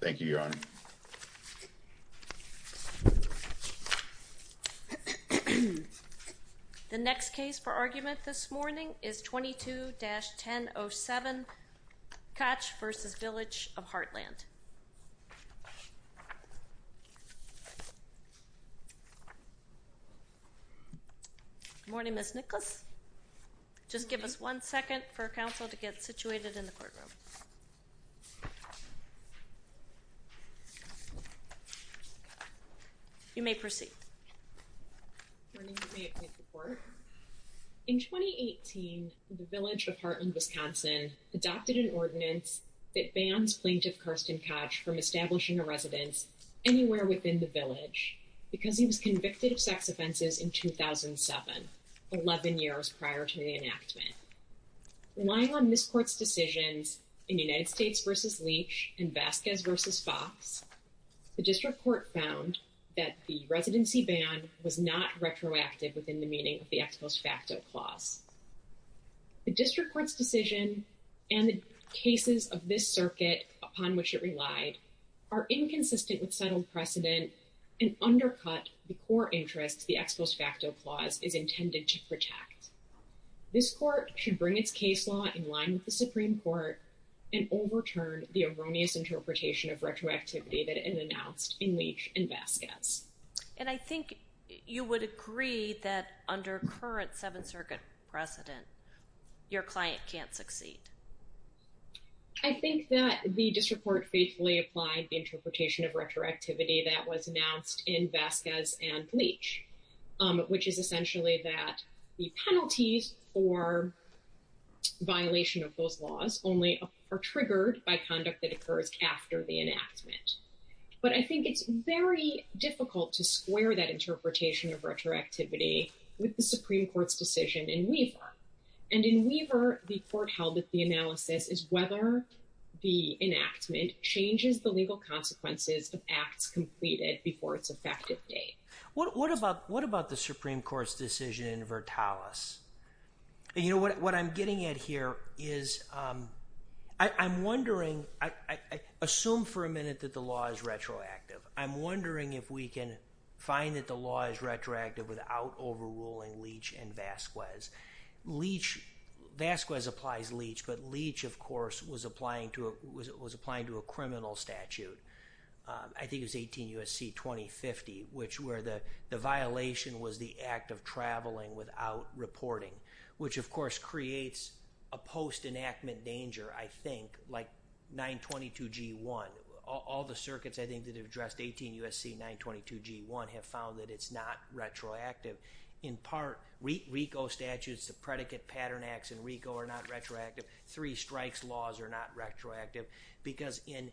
Thank you, Your Honor. The next case for argument this morning is 22-1007, Koch v. Village of Hartland. Good morning, Ms. Nicholas. Just give us one second for counsel to get situated in the courtroom. You may proceed. Good morning. May it please the Court? In 2018, the Village of Hartland, Wisconsin adopted an ordinance that bans plaintiff Karsten Koch from establishing a residence anywhere within the village because he was convicted of sex offenses in 2007, 11 years prior to the enactment. Relying on this Court's decisions in United States v. Leach and Vasquez v. Fox, the District Court found that the residency ban was not retroactive within the meaning of the ex post facto clause. The District Court's decision and the cases of this circuit upon which it relied are inconsistent with settled precedent and undercut the core interests the ex post facto clause is intended to protect. This Court should bring its case law in line with the Supreme Court and overturn the erroneous interpretation of retroactivity that is announced in Leach and Vasquez. And I think you would agree that under current Seventh Circuit precedent, your client can't succeed. I think that the District Court faithfully applied the interpretation of retroactivity that was announced in Vasquez and Leach, which is essentially that the penalties for violation of those laws only are triggered by conduct that occurs after the enactment. But I think it's very difficult to square that interpretation of retroactivity with the Supreme Court's decision in Weaver. And in Weaver, the court held that the analysis is whether the enactment changes the legal consequences of acts completed before its effective date. What about the Supreme Court's decision in Vertalis? What I'm getting at here is I'm wondering, assume for a minute that the law is retroactive. I'm wondering if we can find that the law is retroactive without overruling Leach and Vasquez. Vasquez applies Leach, but Leach, of course, was applying to a criminal statute. I think it was 18 U.S.C. 2050, where the violation was the act of traveling without reporting, which, of course, creates a post-enactment danger, I think, like 922G1. All the circuits, I think, that have addressed 18 U.S.C. 922G1 have found that it's not retroactive. In part, RICO statutes, the predicate pattern acts in RICO are not retroactive. Three strikes laws are not retroactive. Because in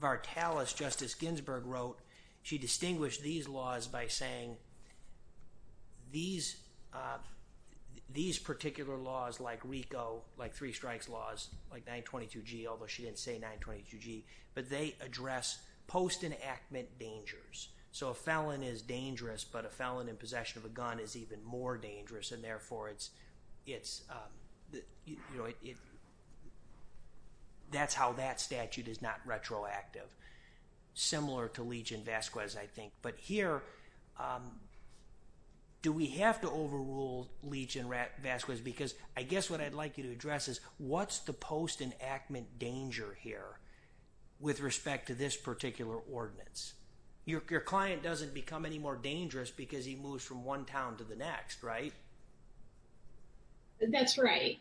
Vertalis, Justice Ginsburg wrote, she distinguished these laws by saying these particular laws, like RICO, like three strikes laws, like 922G, although she didn't say 922G, but they address post-enactment dangers. So, a felon is dangerous, but a felon in possession of a gun is even more dangerous, and therefore, that's how that statute is not retroactive, similar to Leach and Vasquez, I think. But here, do we have to overrule Leach and Vasquez? Because I guess what I'd like you to address is what's the post-enactment danger here with respect to this particular ordinance? Your client doesn't become any more dangerous because he moves from one town to the next, right? That's right.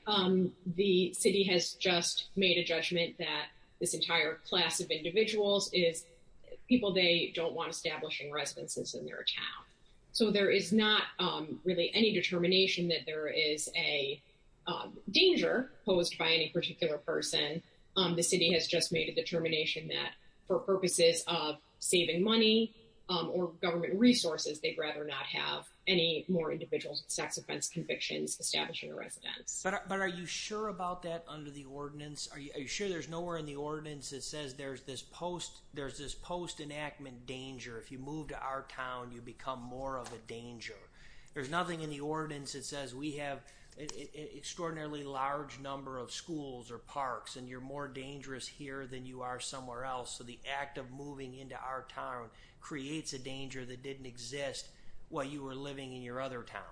The city has just made a judgment that this entire class of individuals is people they don't want establishing residences in their town. So, there is not really any determination that there is a danger posed by any particular person. The city has just made a determination that for purposes of saving money or government resources, they'd rather not have any more individual sex offense convictions establishing a residence. But are you sure about that under the ordinance? Are you sure there's nowhere in the ordinance that says there's this post-enactment danger? If you move to our town, you become more of a danger. There's nothing in the ordinance that says we have an extraordinarily large number of schools or parks and you're more dangerous here than you are somewhere else. So, the act of moving into our town creates a danger that didn't exist while you were living in your other town.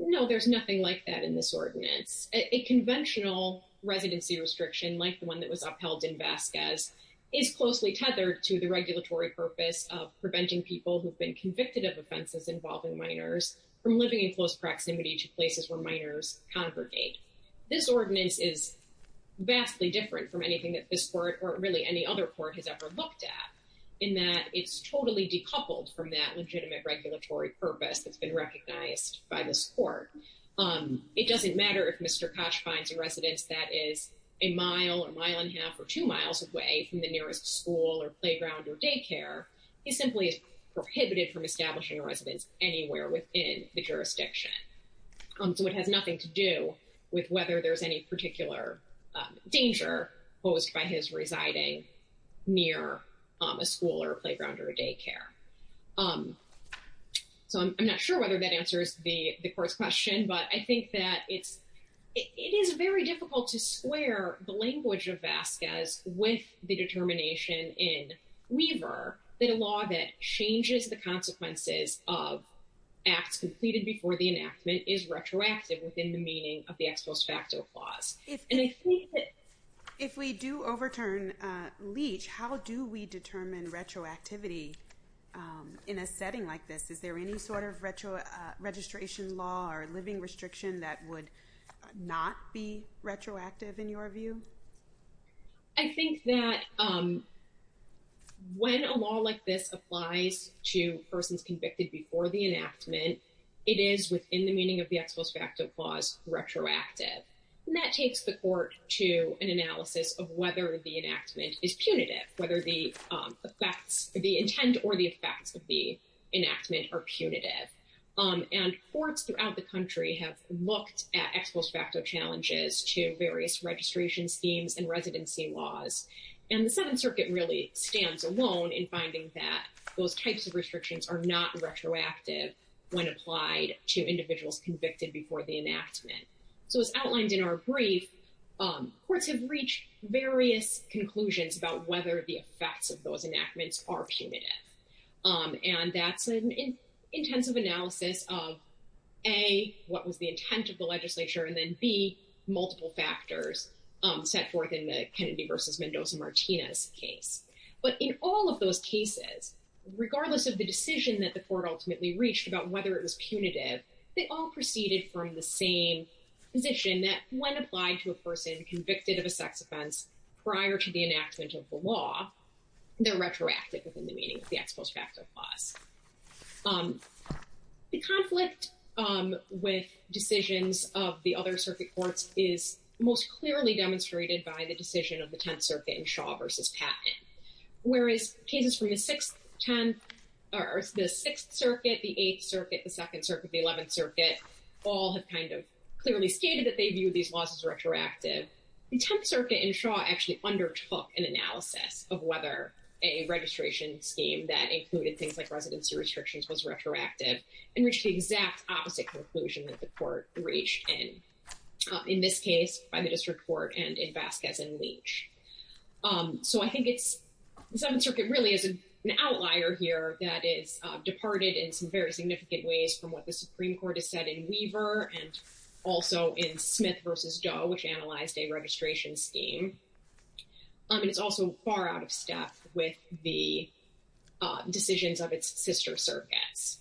No, there's nothing like that in this ordinance. A conventional residency restriction like the one that was upheld in Vasquez is closely tethered to the regulatory purpose of preventing people who've been convicted of offenses involving minors from living in close proximity to places where minors congregate. This ordinance is vastly different from anything that this court or really any other court has ever looked at in that it's totally decoupled from that legitimate regulatory purpose that's been recognized by this court. It doesn't matter if Mr. Koch finds a residence that is a mile or mile and a half or two miles away from the nearest school or playground or daycare. He simply is prohibited from establishing a residence anywhere within the jurisdiction. So, it has nothing to do with whether there's any particular danger posed by his residing near a school or playground or a daycare. So, I'm not sure whether that answers the court's question, but I think that it is very difficult to square the language of Vasquez with the determination in Weaver that a law that changes the consequences of acts completed before the enactment is retroactive within the meaning of the ex post facto clause. If we do overturn Leach, how do we determine retroactivity in a setting like this? Is there any sort of retro registration law or living restriction that would not be retroactive in your view? I think that when a law like this applies to persons convicted before the enactment, it is within the meaning of the ex post facto clause retroactive. And that takes the court to an analysis of whether the enactment is punitive, whether the intent or the effects of the enactment are punitive. And courts throughout the country have looked at ex post facto challenges to various registration schemes and residency laws. And the Seventh Circuit really stands alone in finding that those types of restrictions are not retroactive when applied to individuals convicted before the enactment. So as outlined in our brief, courts have reached various conclusions about whether the effects of those enactments are punitive. And that's an intensive analysis of A, what was the intent of the legislature? And then B, multiple factors set forth in the Kennedy versus Mendoza-Martinez case. But in all of those cases, regardless of the decision that the court ultimately reached about whether it was punitive, they all proceeded from the same position that when applied to a person convicted of a sex offense prior to the enactment of the law, they're retroactive within the meaning of the ex post facto clause. The conflict with decisions of the other circuit courts is most clearly demonstrated by the decision of the Tenth Circuit in Shaw versus Patton. Whereas cases from the Sixth Circuit, the Eighth Circuit, the Second Circuit, the Eleventh Circuit, all have kind of clearly stated that they view these laws as retroactive. The Tenth Circuit in Shaw actually undertook an analysis of whether a registration scheme that included things like residency restrictions was retroactive and reached the exact opposite conclusion that the court reached in. In this case, by the district court and in Vasquez and Leach. So I think it's, the Seventh Circuit really is an outlier here that is departed in some very significant ways from what the Supreme Court has said in Weaver and also in Smith versus Doe, which analyzed a registration scheme. And it's also far out of step with the decisions of its sister circuits.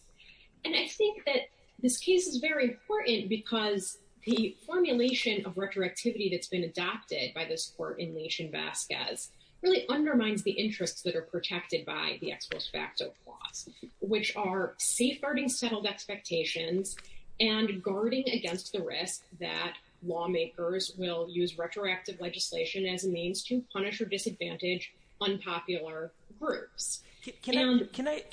And I think that this case is very important because the formulation of retroactivity that's been adopted by this court in Leach and Vasquez really undermines the interests that are protected by the ex post facto clause, which are safeguarding settled expectations and guarding against the risk that lawmakers will use retroactive legislation as a means to punish or disadvantage unpopular groups. Can I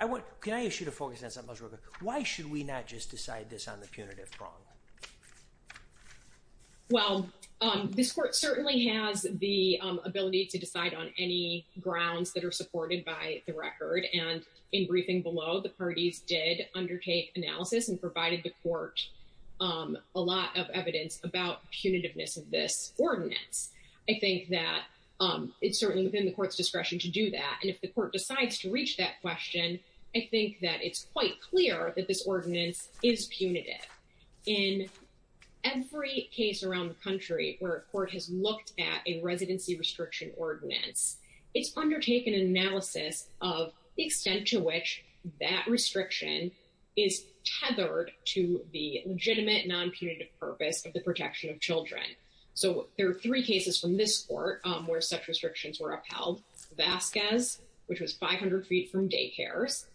ask you to focus on something else real quick? Why should we not just decide this on the punitive prong? Well, this court certainly has the ability to decide on any grounds that are supported by the record. And in briefing below, the parties did undertake analysis and provided the court a lot of evidence about punitiveness of this ordinance. I think that it's certainly within the court's discretion to do that. And if the court decides to reach that question, I think that it's quite clear that this ordinance is punitive. In every case around the country where a court has looked at a residency restriction ordinance, it's undertaken an analysis of the extent to which that restriction is tethered to the legitimate non-punitive purpose of the protection of children. So there are three cases from this court where such restrictions were upheld. Vazquez, which was 500 feet from daycares.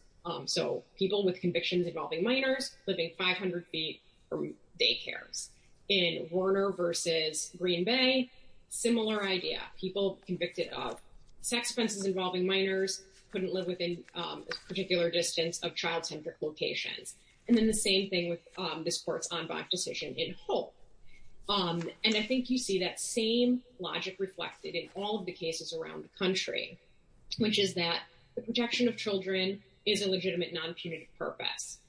So people with convictions involving minors living 500 feet from daycares. In Warner versus Green Bay, similar idea. People convicted of sex offenses involving minors couldn't live within a particular distance of child-centric locations. And then the same thing with this court's en banc decision in Hope. And I think you see that same logic reflected in all of the cases around the country, which is that the protection of children is a legitimate non-punitive purpose.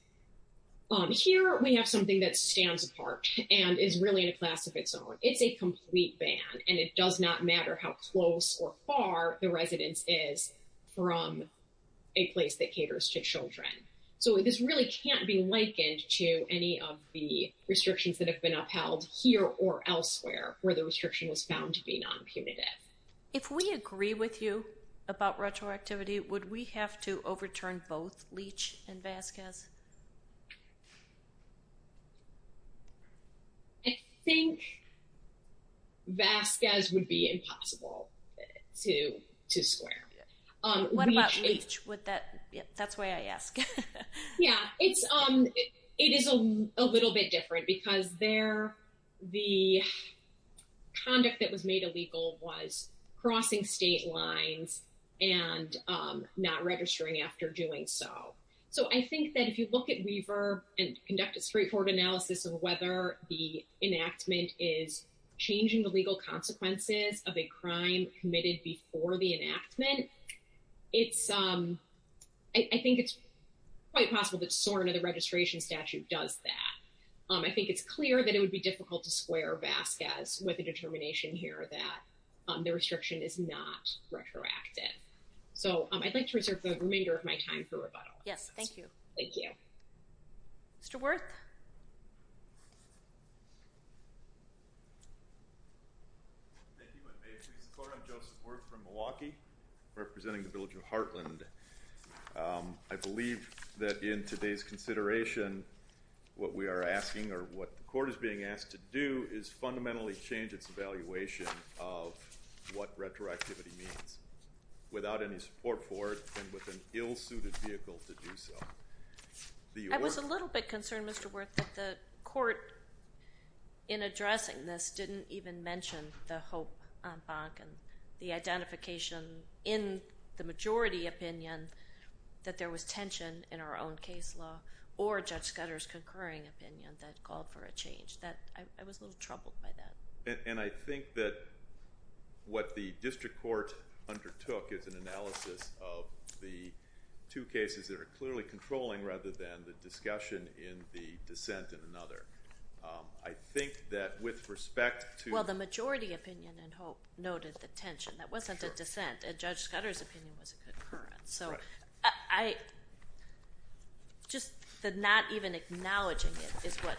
Here we have something that stands apart and is really in a class of its own. It's a complete ban, and it does not matter how close or far the residence is from a place that caters to children. So this really can't be likened to any of the restrictions that have been upheld here or elsewhere, where the restriction was found to be non-punitive. If we agree with you about retroactivity, would we have to overturn both Leach and Vazquez? I think Vazquez would be impossible to square. What about Leach? That's why I ask. Yeah, it is a little bit different because the conduct that was made illegal was crossing state lines and not registering after doing so. So I think that if you look at Weaver and conduct a straightforward analysis of whether the enactment is changing the legal consequences of a crime committed before the enactment, I think it's quite possible that SORNA, the registration statute, does that. I think it's clear that it would be difficult to square Vazquez with the determination here that the restriction is not retroactive. So I'd like to reserve the remainder of my time for rebuttal. Yes, thank you. Thank you. Mr. Wirth? Thank you. I'm Joseph Wirth from Milwaukee, representing the Village of Heartland. I believe that in today's consideration, what we are asking or what the court is being asked to do is fundamentally change its evaluation of what retroactivity means, without any support for it and with an ill-suited vehicle to do so. I was a little bit concerned, Mr. Wirth, that the court in addressing this didn't even mention the hope en banc and the identification in the majority opinion that there was tension in our own case law or Judge Scudder's concurring opinion that called for a change. I was a little troubled by that. And I think that what the district court undertook is an analysis of the two cases that are clearly controlling, rather than the discussion in the dissent in another. I think that with respect to... Well, the majority opinion in hope noted the tension. That wasn't a dissent. Judge Scudder's opinion was a concurrence. Just the not even acknowledging it is what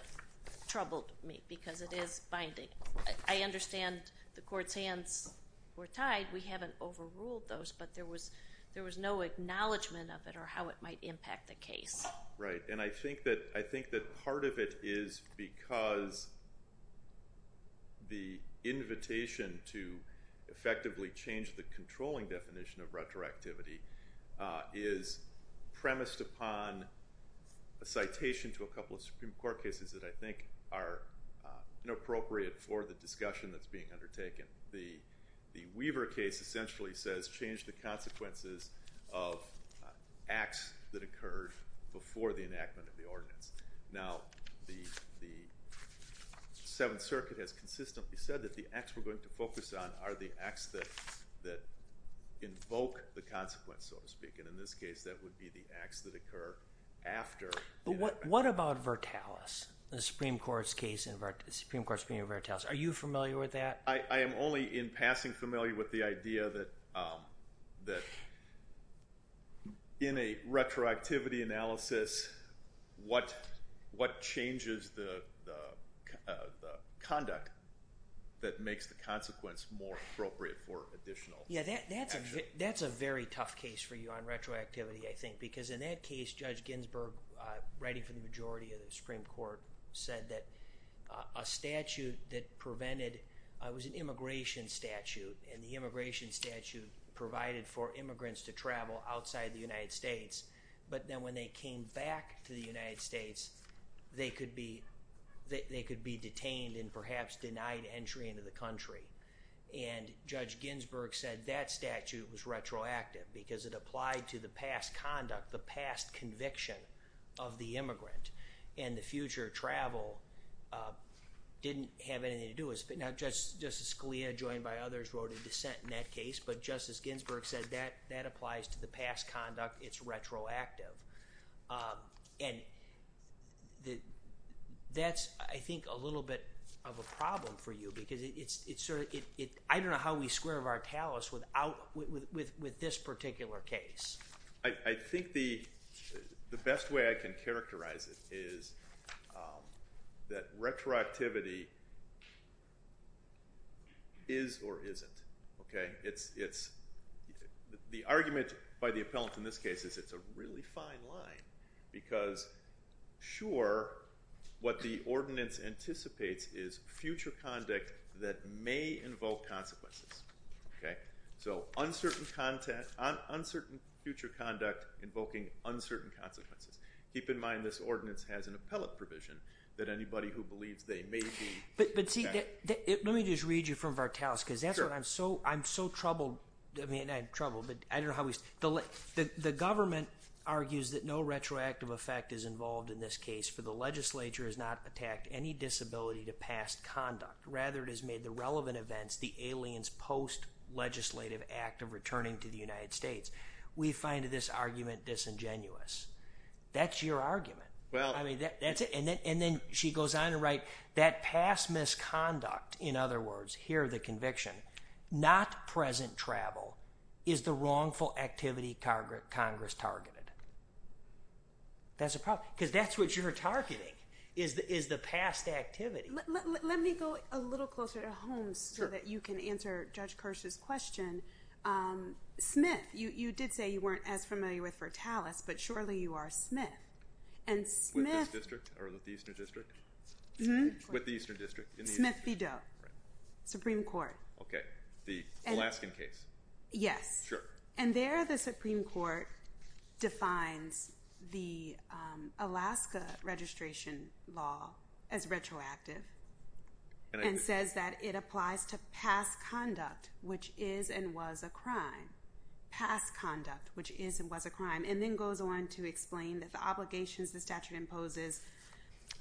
troubled me, because it is binding. I understand the court's hands were tied. We haven't overruled those, but there was no acknowledgement of it or how it might impact the case. Right. And I think that part of it is because the invitation to effectively change the controlling definition of retroactivity is premised upon a citation to a couple of Supreme Court cases that I think are inappropriate for the discussion that's being undertaken. The Weaver case essentially says change the consequences of acts that occurred before the enactment of the ordinance. Now, the Seventh Circuit has consistently said that the acts we're going to focus on are the acts that invoke the consequence, so to speak. And in this case, that would be the acts that occur after... But what about Vertalis, the Supreme Court's case in Vertalis? Are you familiar with that? I am only in passing familiar with the idea that in a retroactivity analysis, what changes the conduct that makes the consequence more appropriate for additional... Yeah, that's a very tough case for you on retroactivity, I think, because in that case, Judge Ginsburg, writing for the majority of the Supreme Court, said that a statute that prevented... It was an immigration statute, and the immigration statute provided for immigrants to travel outside the United States. But then when they came back to the United States, they could be detained and perhaps denied entry into the country. And Judge Ginsburg said that statute was retroactive because it applied to the past conduct, the past conviction of the immigrant. And the future travel didn't have anything to do with it. Now, Justice Scalia, joined by others, wrote a dissent in that case, but Justice Ginsburg said that that applies to the past conduct. It's retroactive. And that's, I think, a little bit of a problem for you because it's sort of... I don't know how we square Vertalis with this particular case. I think the best way I can characterize it is that retroactivity is or isn't. The argument by the appellant in this case is it's a really fine line because, sure, what the ordinance anticipates is future conduct that may invoke consequences. So uncertain future conduct invoking uncertain consequences. Keep in mind this ordinance has an appellate provision that anybody who believes they may be... Let me just read you from Vertalis because that's what I'm so troubled... I mean, I'm troubled, but I don't know how we... The government argues that no retroactive effect is involved in this case for the legislature has not attacked any disability to past conduct. Rather, it has made the relevant events the alien's post-legislative act of returning to the United States. We find this argument disingenuous. That's your argument. I mean, that's it. And then she goes on to write that past misconduct, in other words, here the conviction, not present travel, is the wrongful activity Congress targeted. That's a problem because that's what you're targeting is the past activity. Let me go a little closer to Holmes so that you can answer Judge Kirsch's question. Smith, you did say you weren't as familiar with Vertalis, but surely you are Smith. And Smith... With this district or with the Eastern District? With the Eastern District. Smith v. Doe. Supreme Court. Okay. The Alaskan case. Yes. Sure. And there the Supreme Court defines the Alaska registration law as retroactive and says that it applies to past conduct, which is and was a crime. Past conduct, which is and was a crime. And then goes on to explain that the obligations the statute imposes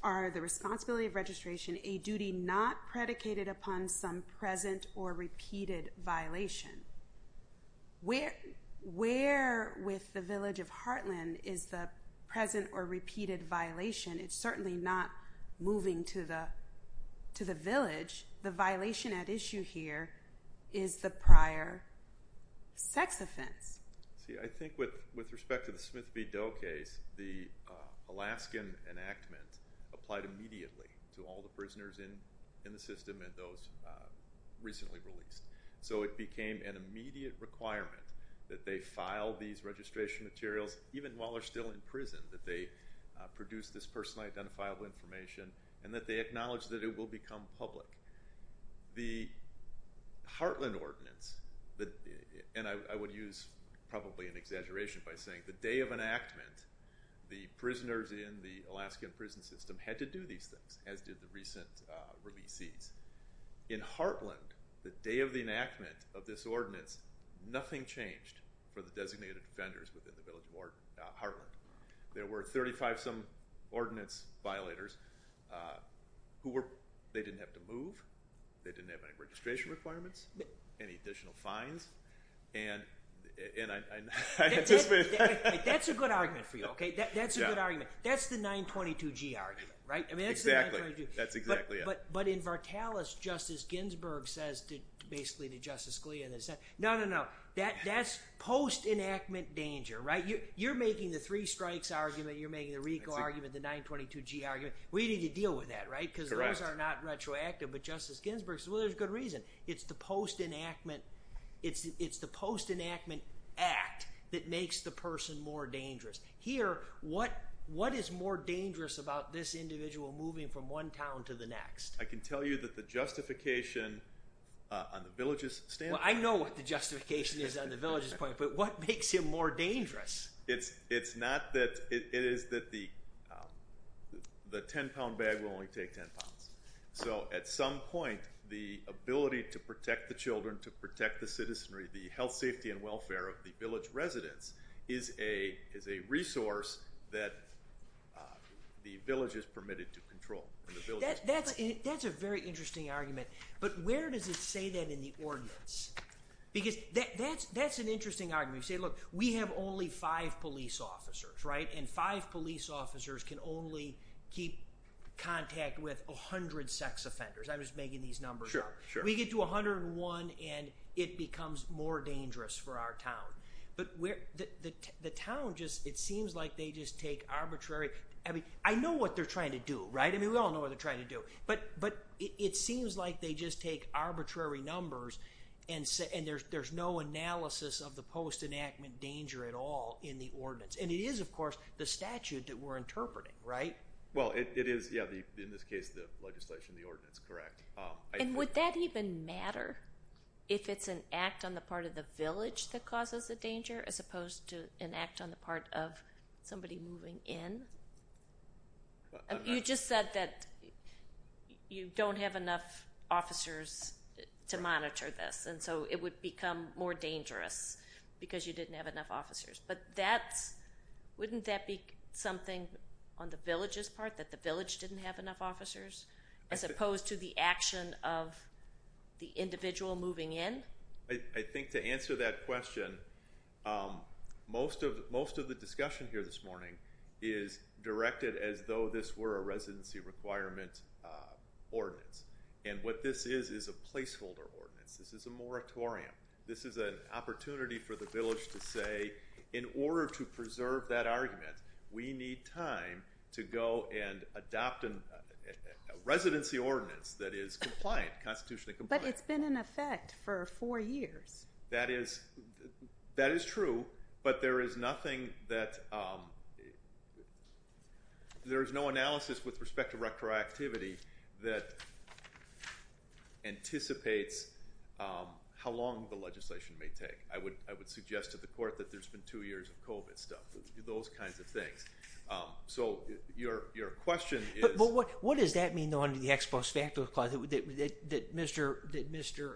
are the responsibility of registration, a duty not predicated upon some present or repeated violation. Where with the village of Heartland is the present or repeated violation? It's certainly not moving to the village. The violation at issue here is the prior sex offense. See, I think with respect to the Smith v. Doe case, the Alaskan enactment applied immediately to all the prisoners in the system and those recently released. So it became an immediate requirement that they file these registration materials, even while they're still in prison, that they produce this personally identifiable information and that they acknowledge that it will become public. The Heartland ordinance, and I would use probably an exaggeration by saying the day of enactment, the prisoners in the Alaskan prison system had to do these things, as did the recent releasees. In Heartland, the day of the enactment of this ordinance, nothing changed for the designated offenders within the village of Heartland. There were 35-some ordinance violators who didn't have to move. They didn't have any registration requirements, any additional fines. That's a good argument for you, okay? That's a good argument. That's the 922G argument, right? Exactly. That's exactly it. But in Vartalis, Justice Ginsburg says basically to Justice Scalia, no, no, no, that's post-enactment danger, right? You're making the three strikes argument, you're making the RICO argument, the 922G argument. We need to deal with that, right? Correct. Because those are not retroactive. But Justice Ginsburg says, well, there's a good reason. It's the post-enactment act that makes the person more dangerous. Here, what is more dangerous about this individual moving from one town to the next? I can tell you that the justification on the village's standpoint. I know what the justification is on the village's point, but what makes him more dangerous? It's not that the 10-pound bag will only take 10 pounds. So at some point, the ability to protect the children, to protect the citizenry, the health, safety, and welfare of the village residents is a resource that the village is permitted to control. That's a very interesting argument. But where does it say that in the ordinance? Because that's an interesting argument. You say, look, we have only five police officers, right? And five police officers can only keep contact with 100 sex offenders. I'm just making these numbers up. Sure, sure. We get to 101, and it becomes more dangerous for our town. But the town just, it seems like they just take arbitrary, I mean, I know what they're trying to do, right? I mean, we all know what they're trying to do. But it seems like they just take arbitrary numbers, and there's no analysis of the post-enactment danger at all in the ordinance. And it is, of course, the statute that we're interpreting, right? Well, it is, yeah, in this case, the legislation, the ordinance, correct. And would that even matter if it's an act on the part of the village that causes the danger as opposed to an act on the part of somebody moving in? You just said that you don't have enough officers to monitor this, and so it would become more dangerous because you didn't have enough officers. But that's, wouldn't that be something on the village's part, that the village didn't have enough officers as opposed to the action of the individual moving in? I think to answer that question, most of the discussion here this morning is directed as though this were a residency requirement ordinance. And what this is is a placeholder ordinance. This is a moratorium. This is an opportunity for the village to say, in order to preserve that argument, we need time to go and adopt a residency ordinance that is compliant, constitutionally compliant. But it's been in effect for four years. That is true, but there is nothing that, there is no analysis with respect to retroactivity that anticipates how long the legislation may take. I would suggest to the court that there's been two years of COVID stuff, those kinds of things. So, your question is... But what does that mean, though, under the ex post facto clause, that Mr.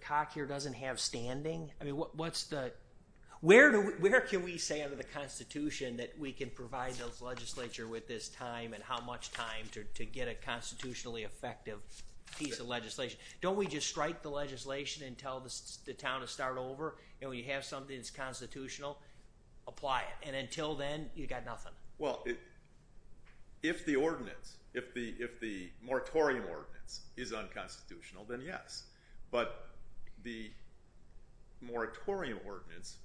Cock here doesn't have standing? I mean, what's the, where can we say under the Constitution that we can provide those legislature with this time and how much time to get a constitutionally effective piece of legislation? Don't we just strike the legislation and tell the town to start over? And when you have something that's constitutional, apply it. And until then, you've got nothing. Well, if the ordinance, if the moratorium ordinance is unconstitutional, then yes. But the moratorium ordinance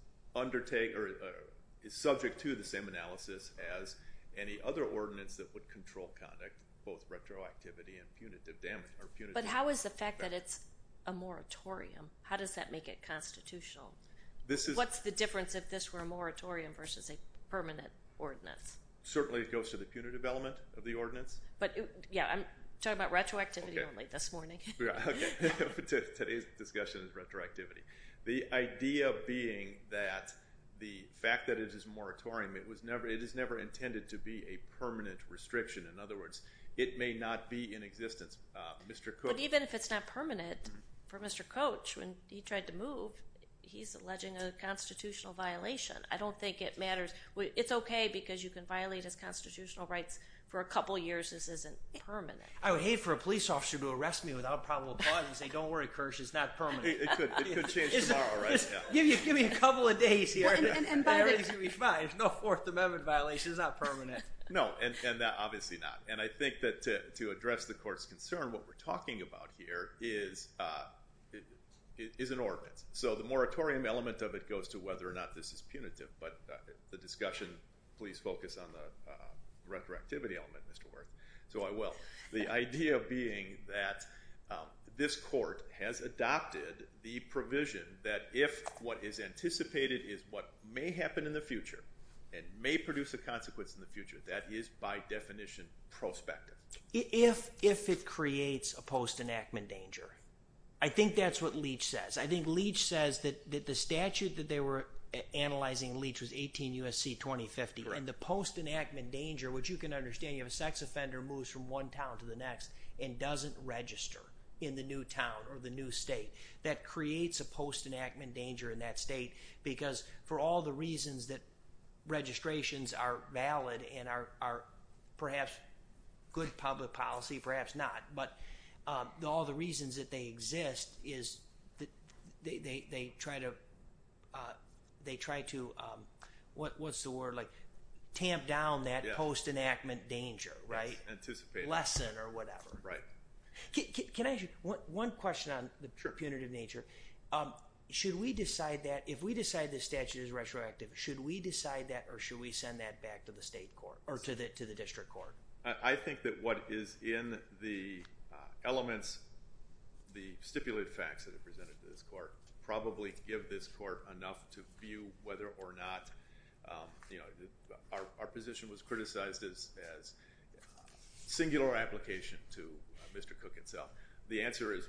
is subject to the same analysis as any other ordinance that would control conduct, both retroactivity and punitive damage. But how is the fact that it's a moratorium, how does that make it constitutional? What's the difference if this were a moratorium versus a permanent ordinance? Certainly it goes to the punitive element of the ordinance. But, yeah, I'm talking about retroactivity only this morning. Today's discussion is retroactivity. The idea being that the fact that it is moratorium, it was never, it is never intended to be a permanent restriction. In other words, it may not be in existence. But even if it's not permanent, for Mr. Coach, when he tried to move, he's alleging a constitutional violation. I don't think it matters. It's okay because you can violate his constitutional rights for a couple years. This isn't permanent. I would hate for a police officer to arrest me without probable cause and say, don't worry, Kersh, it's not permanent. It could change tomorrow, right? Give me a couple of days here and everything will be fine. There's no Fourth Amendment violation. It's not permanent. No, and obviously not. And I think that to address the court's concern, what we're talking about here is an ordinance. So the moratorium element of it goes to whether or not this is punitive. But the discussion, please focus on the retroactivity element, Mr. Worth. So I will. The idea being that this court has adopted the provision that if what is anticipated is what may happen in the future and may produce a consequence in the future, that is by definition prospective. If it creates a post-enactment danger, I think that's what Leach says. I think Leach says that the statute that they were analyzing in Leach was 18 U.S.C. 2050. And the post-enactment danger, which you can understand, you have a sex offender moves from one town to the next and doesn't register in the new town or the new state, that creates a post-enactment danger in that state because for all the reasons that registrations are valid and are perhaps good public policy, perhaps not, but all the reasons that they exist is they try to, what's the word, tamp down that post-enactment danger, right? Anticipate. Lesson or whatever. Right. Can I ask you one question on the punitive nature? Sure. Should we decide that, if we decide the statute is retroactive, should we decide that or should we send that back to the state court or to the district court? I think that what is in the elements, the stipulated facts that are presented to this court, probably give this court enough to view whether or not, you know, our position was criticized as singular application to Mr. Cook himself. The answer is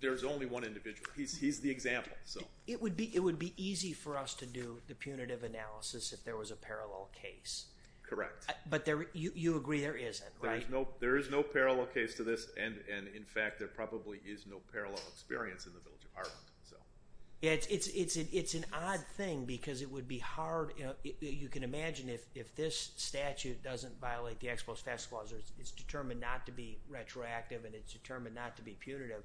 there's only one individual. He's the example, so. It would be easy for us to do the punitive analysis if there was a parallel case. Correct. But you agree there isn't, right? There is no parallel case to this and, in fact, there probably is no parallel experience in the village of Harlem, so. It's an odd thing because it would be hard, you know, you can imagine if this statute doesn't violate the Exposed Facts Clause, it's determined not to be retroactive and it's determined not to be punitive,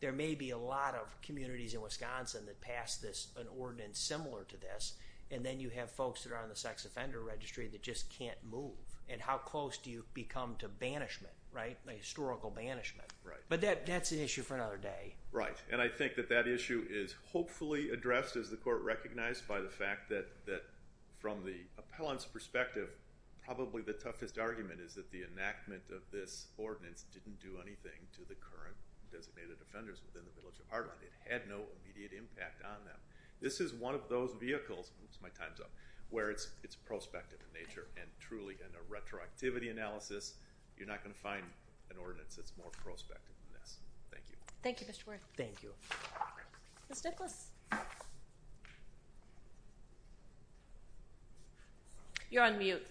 there may be a lot of communities in Wisconsin that pass this, an ordinance similar to this, and then you have folks that are on the sex offender registry that just can't move. And how close do you become to banishment, right, historical banishment? Right. But that's an issue for another day. Right, and I think that that issue is hopefully addressed, as the court recognized, by the fact that from the appellant's perspective, probably the toughest argument is that the enactment of this ordinance didn't do anything to the current designated offenders within the village of Harlem. It had no immediate impact on them. This is one of those vehicles, oops, my time's up, where it's prospective in nature and truly in a retroactivity analysis, you're not going to find an ordinance that's more prospective than this. Thank you. Thank you, Mr. Worth. Thank you. Ms. Nicholas. You're on mute.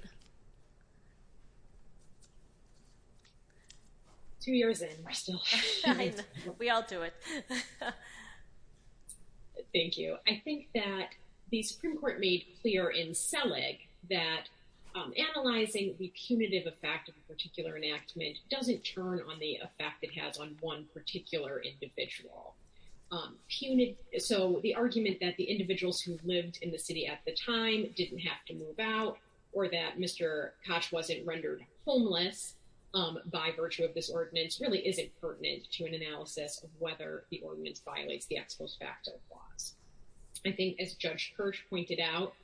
Two years in, we're still here. We all do it. Thank you. I think that the Supreme Court made clear in Selig that analyzing the punitive effect of a particular enactment doesn't turn on the effect it has on one particular individual. So the argument that the individuals who lived in the city at the time didn't have to move out or that Mr. Koch wasn't rendered homeless by virtue of this ordinance really isn't pertinent to an analysis of whether the ordinance violates the ex post facto clause. I think as Judge Kirsch pointed out,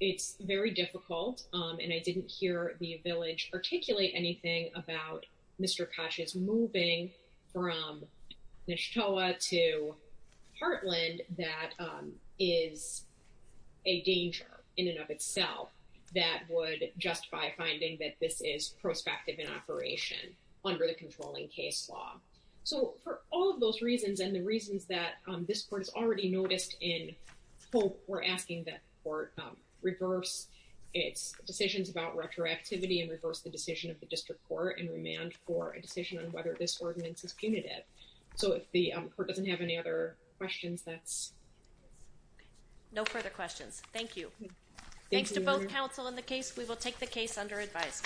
it's very difficult, and I didn't hear the village articulate anything about Mr. Koch's moving from Neshtoa to Heartland that is a danger in and of itself that would justify finding that this is prospective in operation under the controlling case law. So for all of those reasons and the reasons that this Court has already noticed in full, we're asking that the Court reverse its decisions about retroactivity and reverse the decision of the District Court and remand for a decision on whether this ordinance is punitive. So if the Court doesn't have any other questions, that's... No further questions. Thank you. Thanks to both counsel and the case, we will take the case under advice.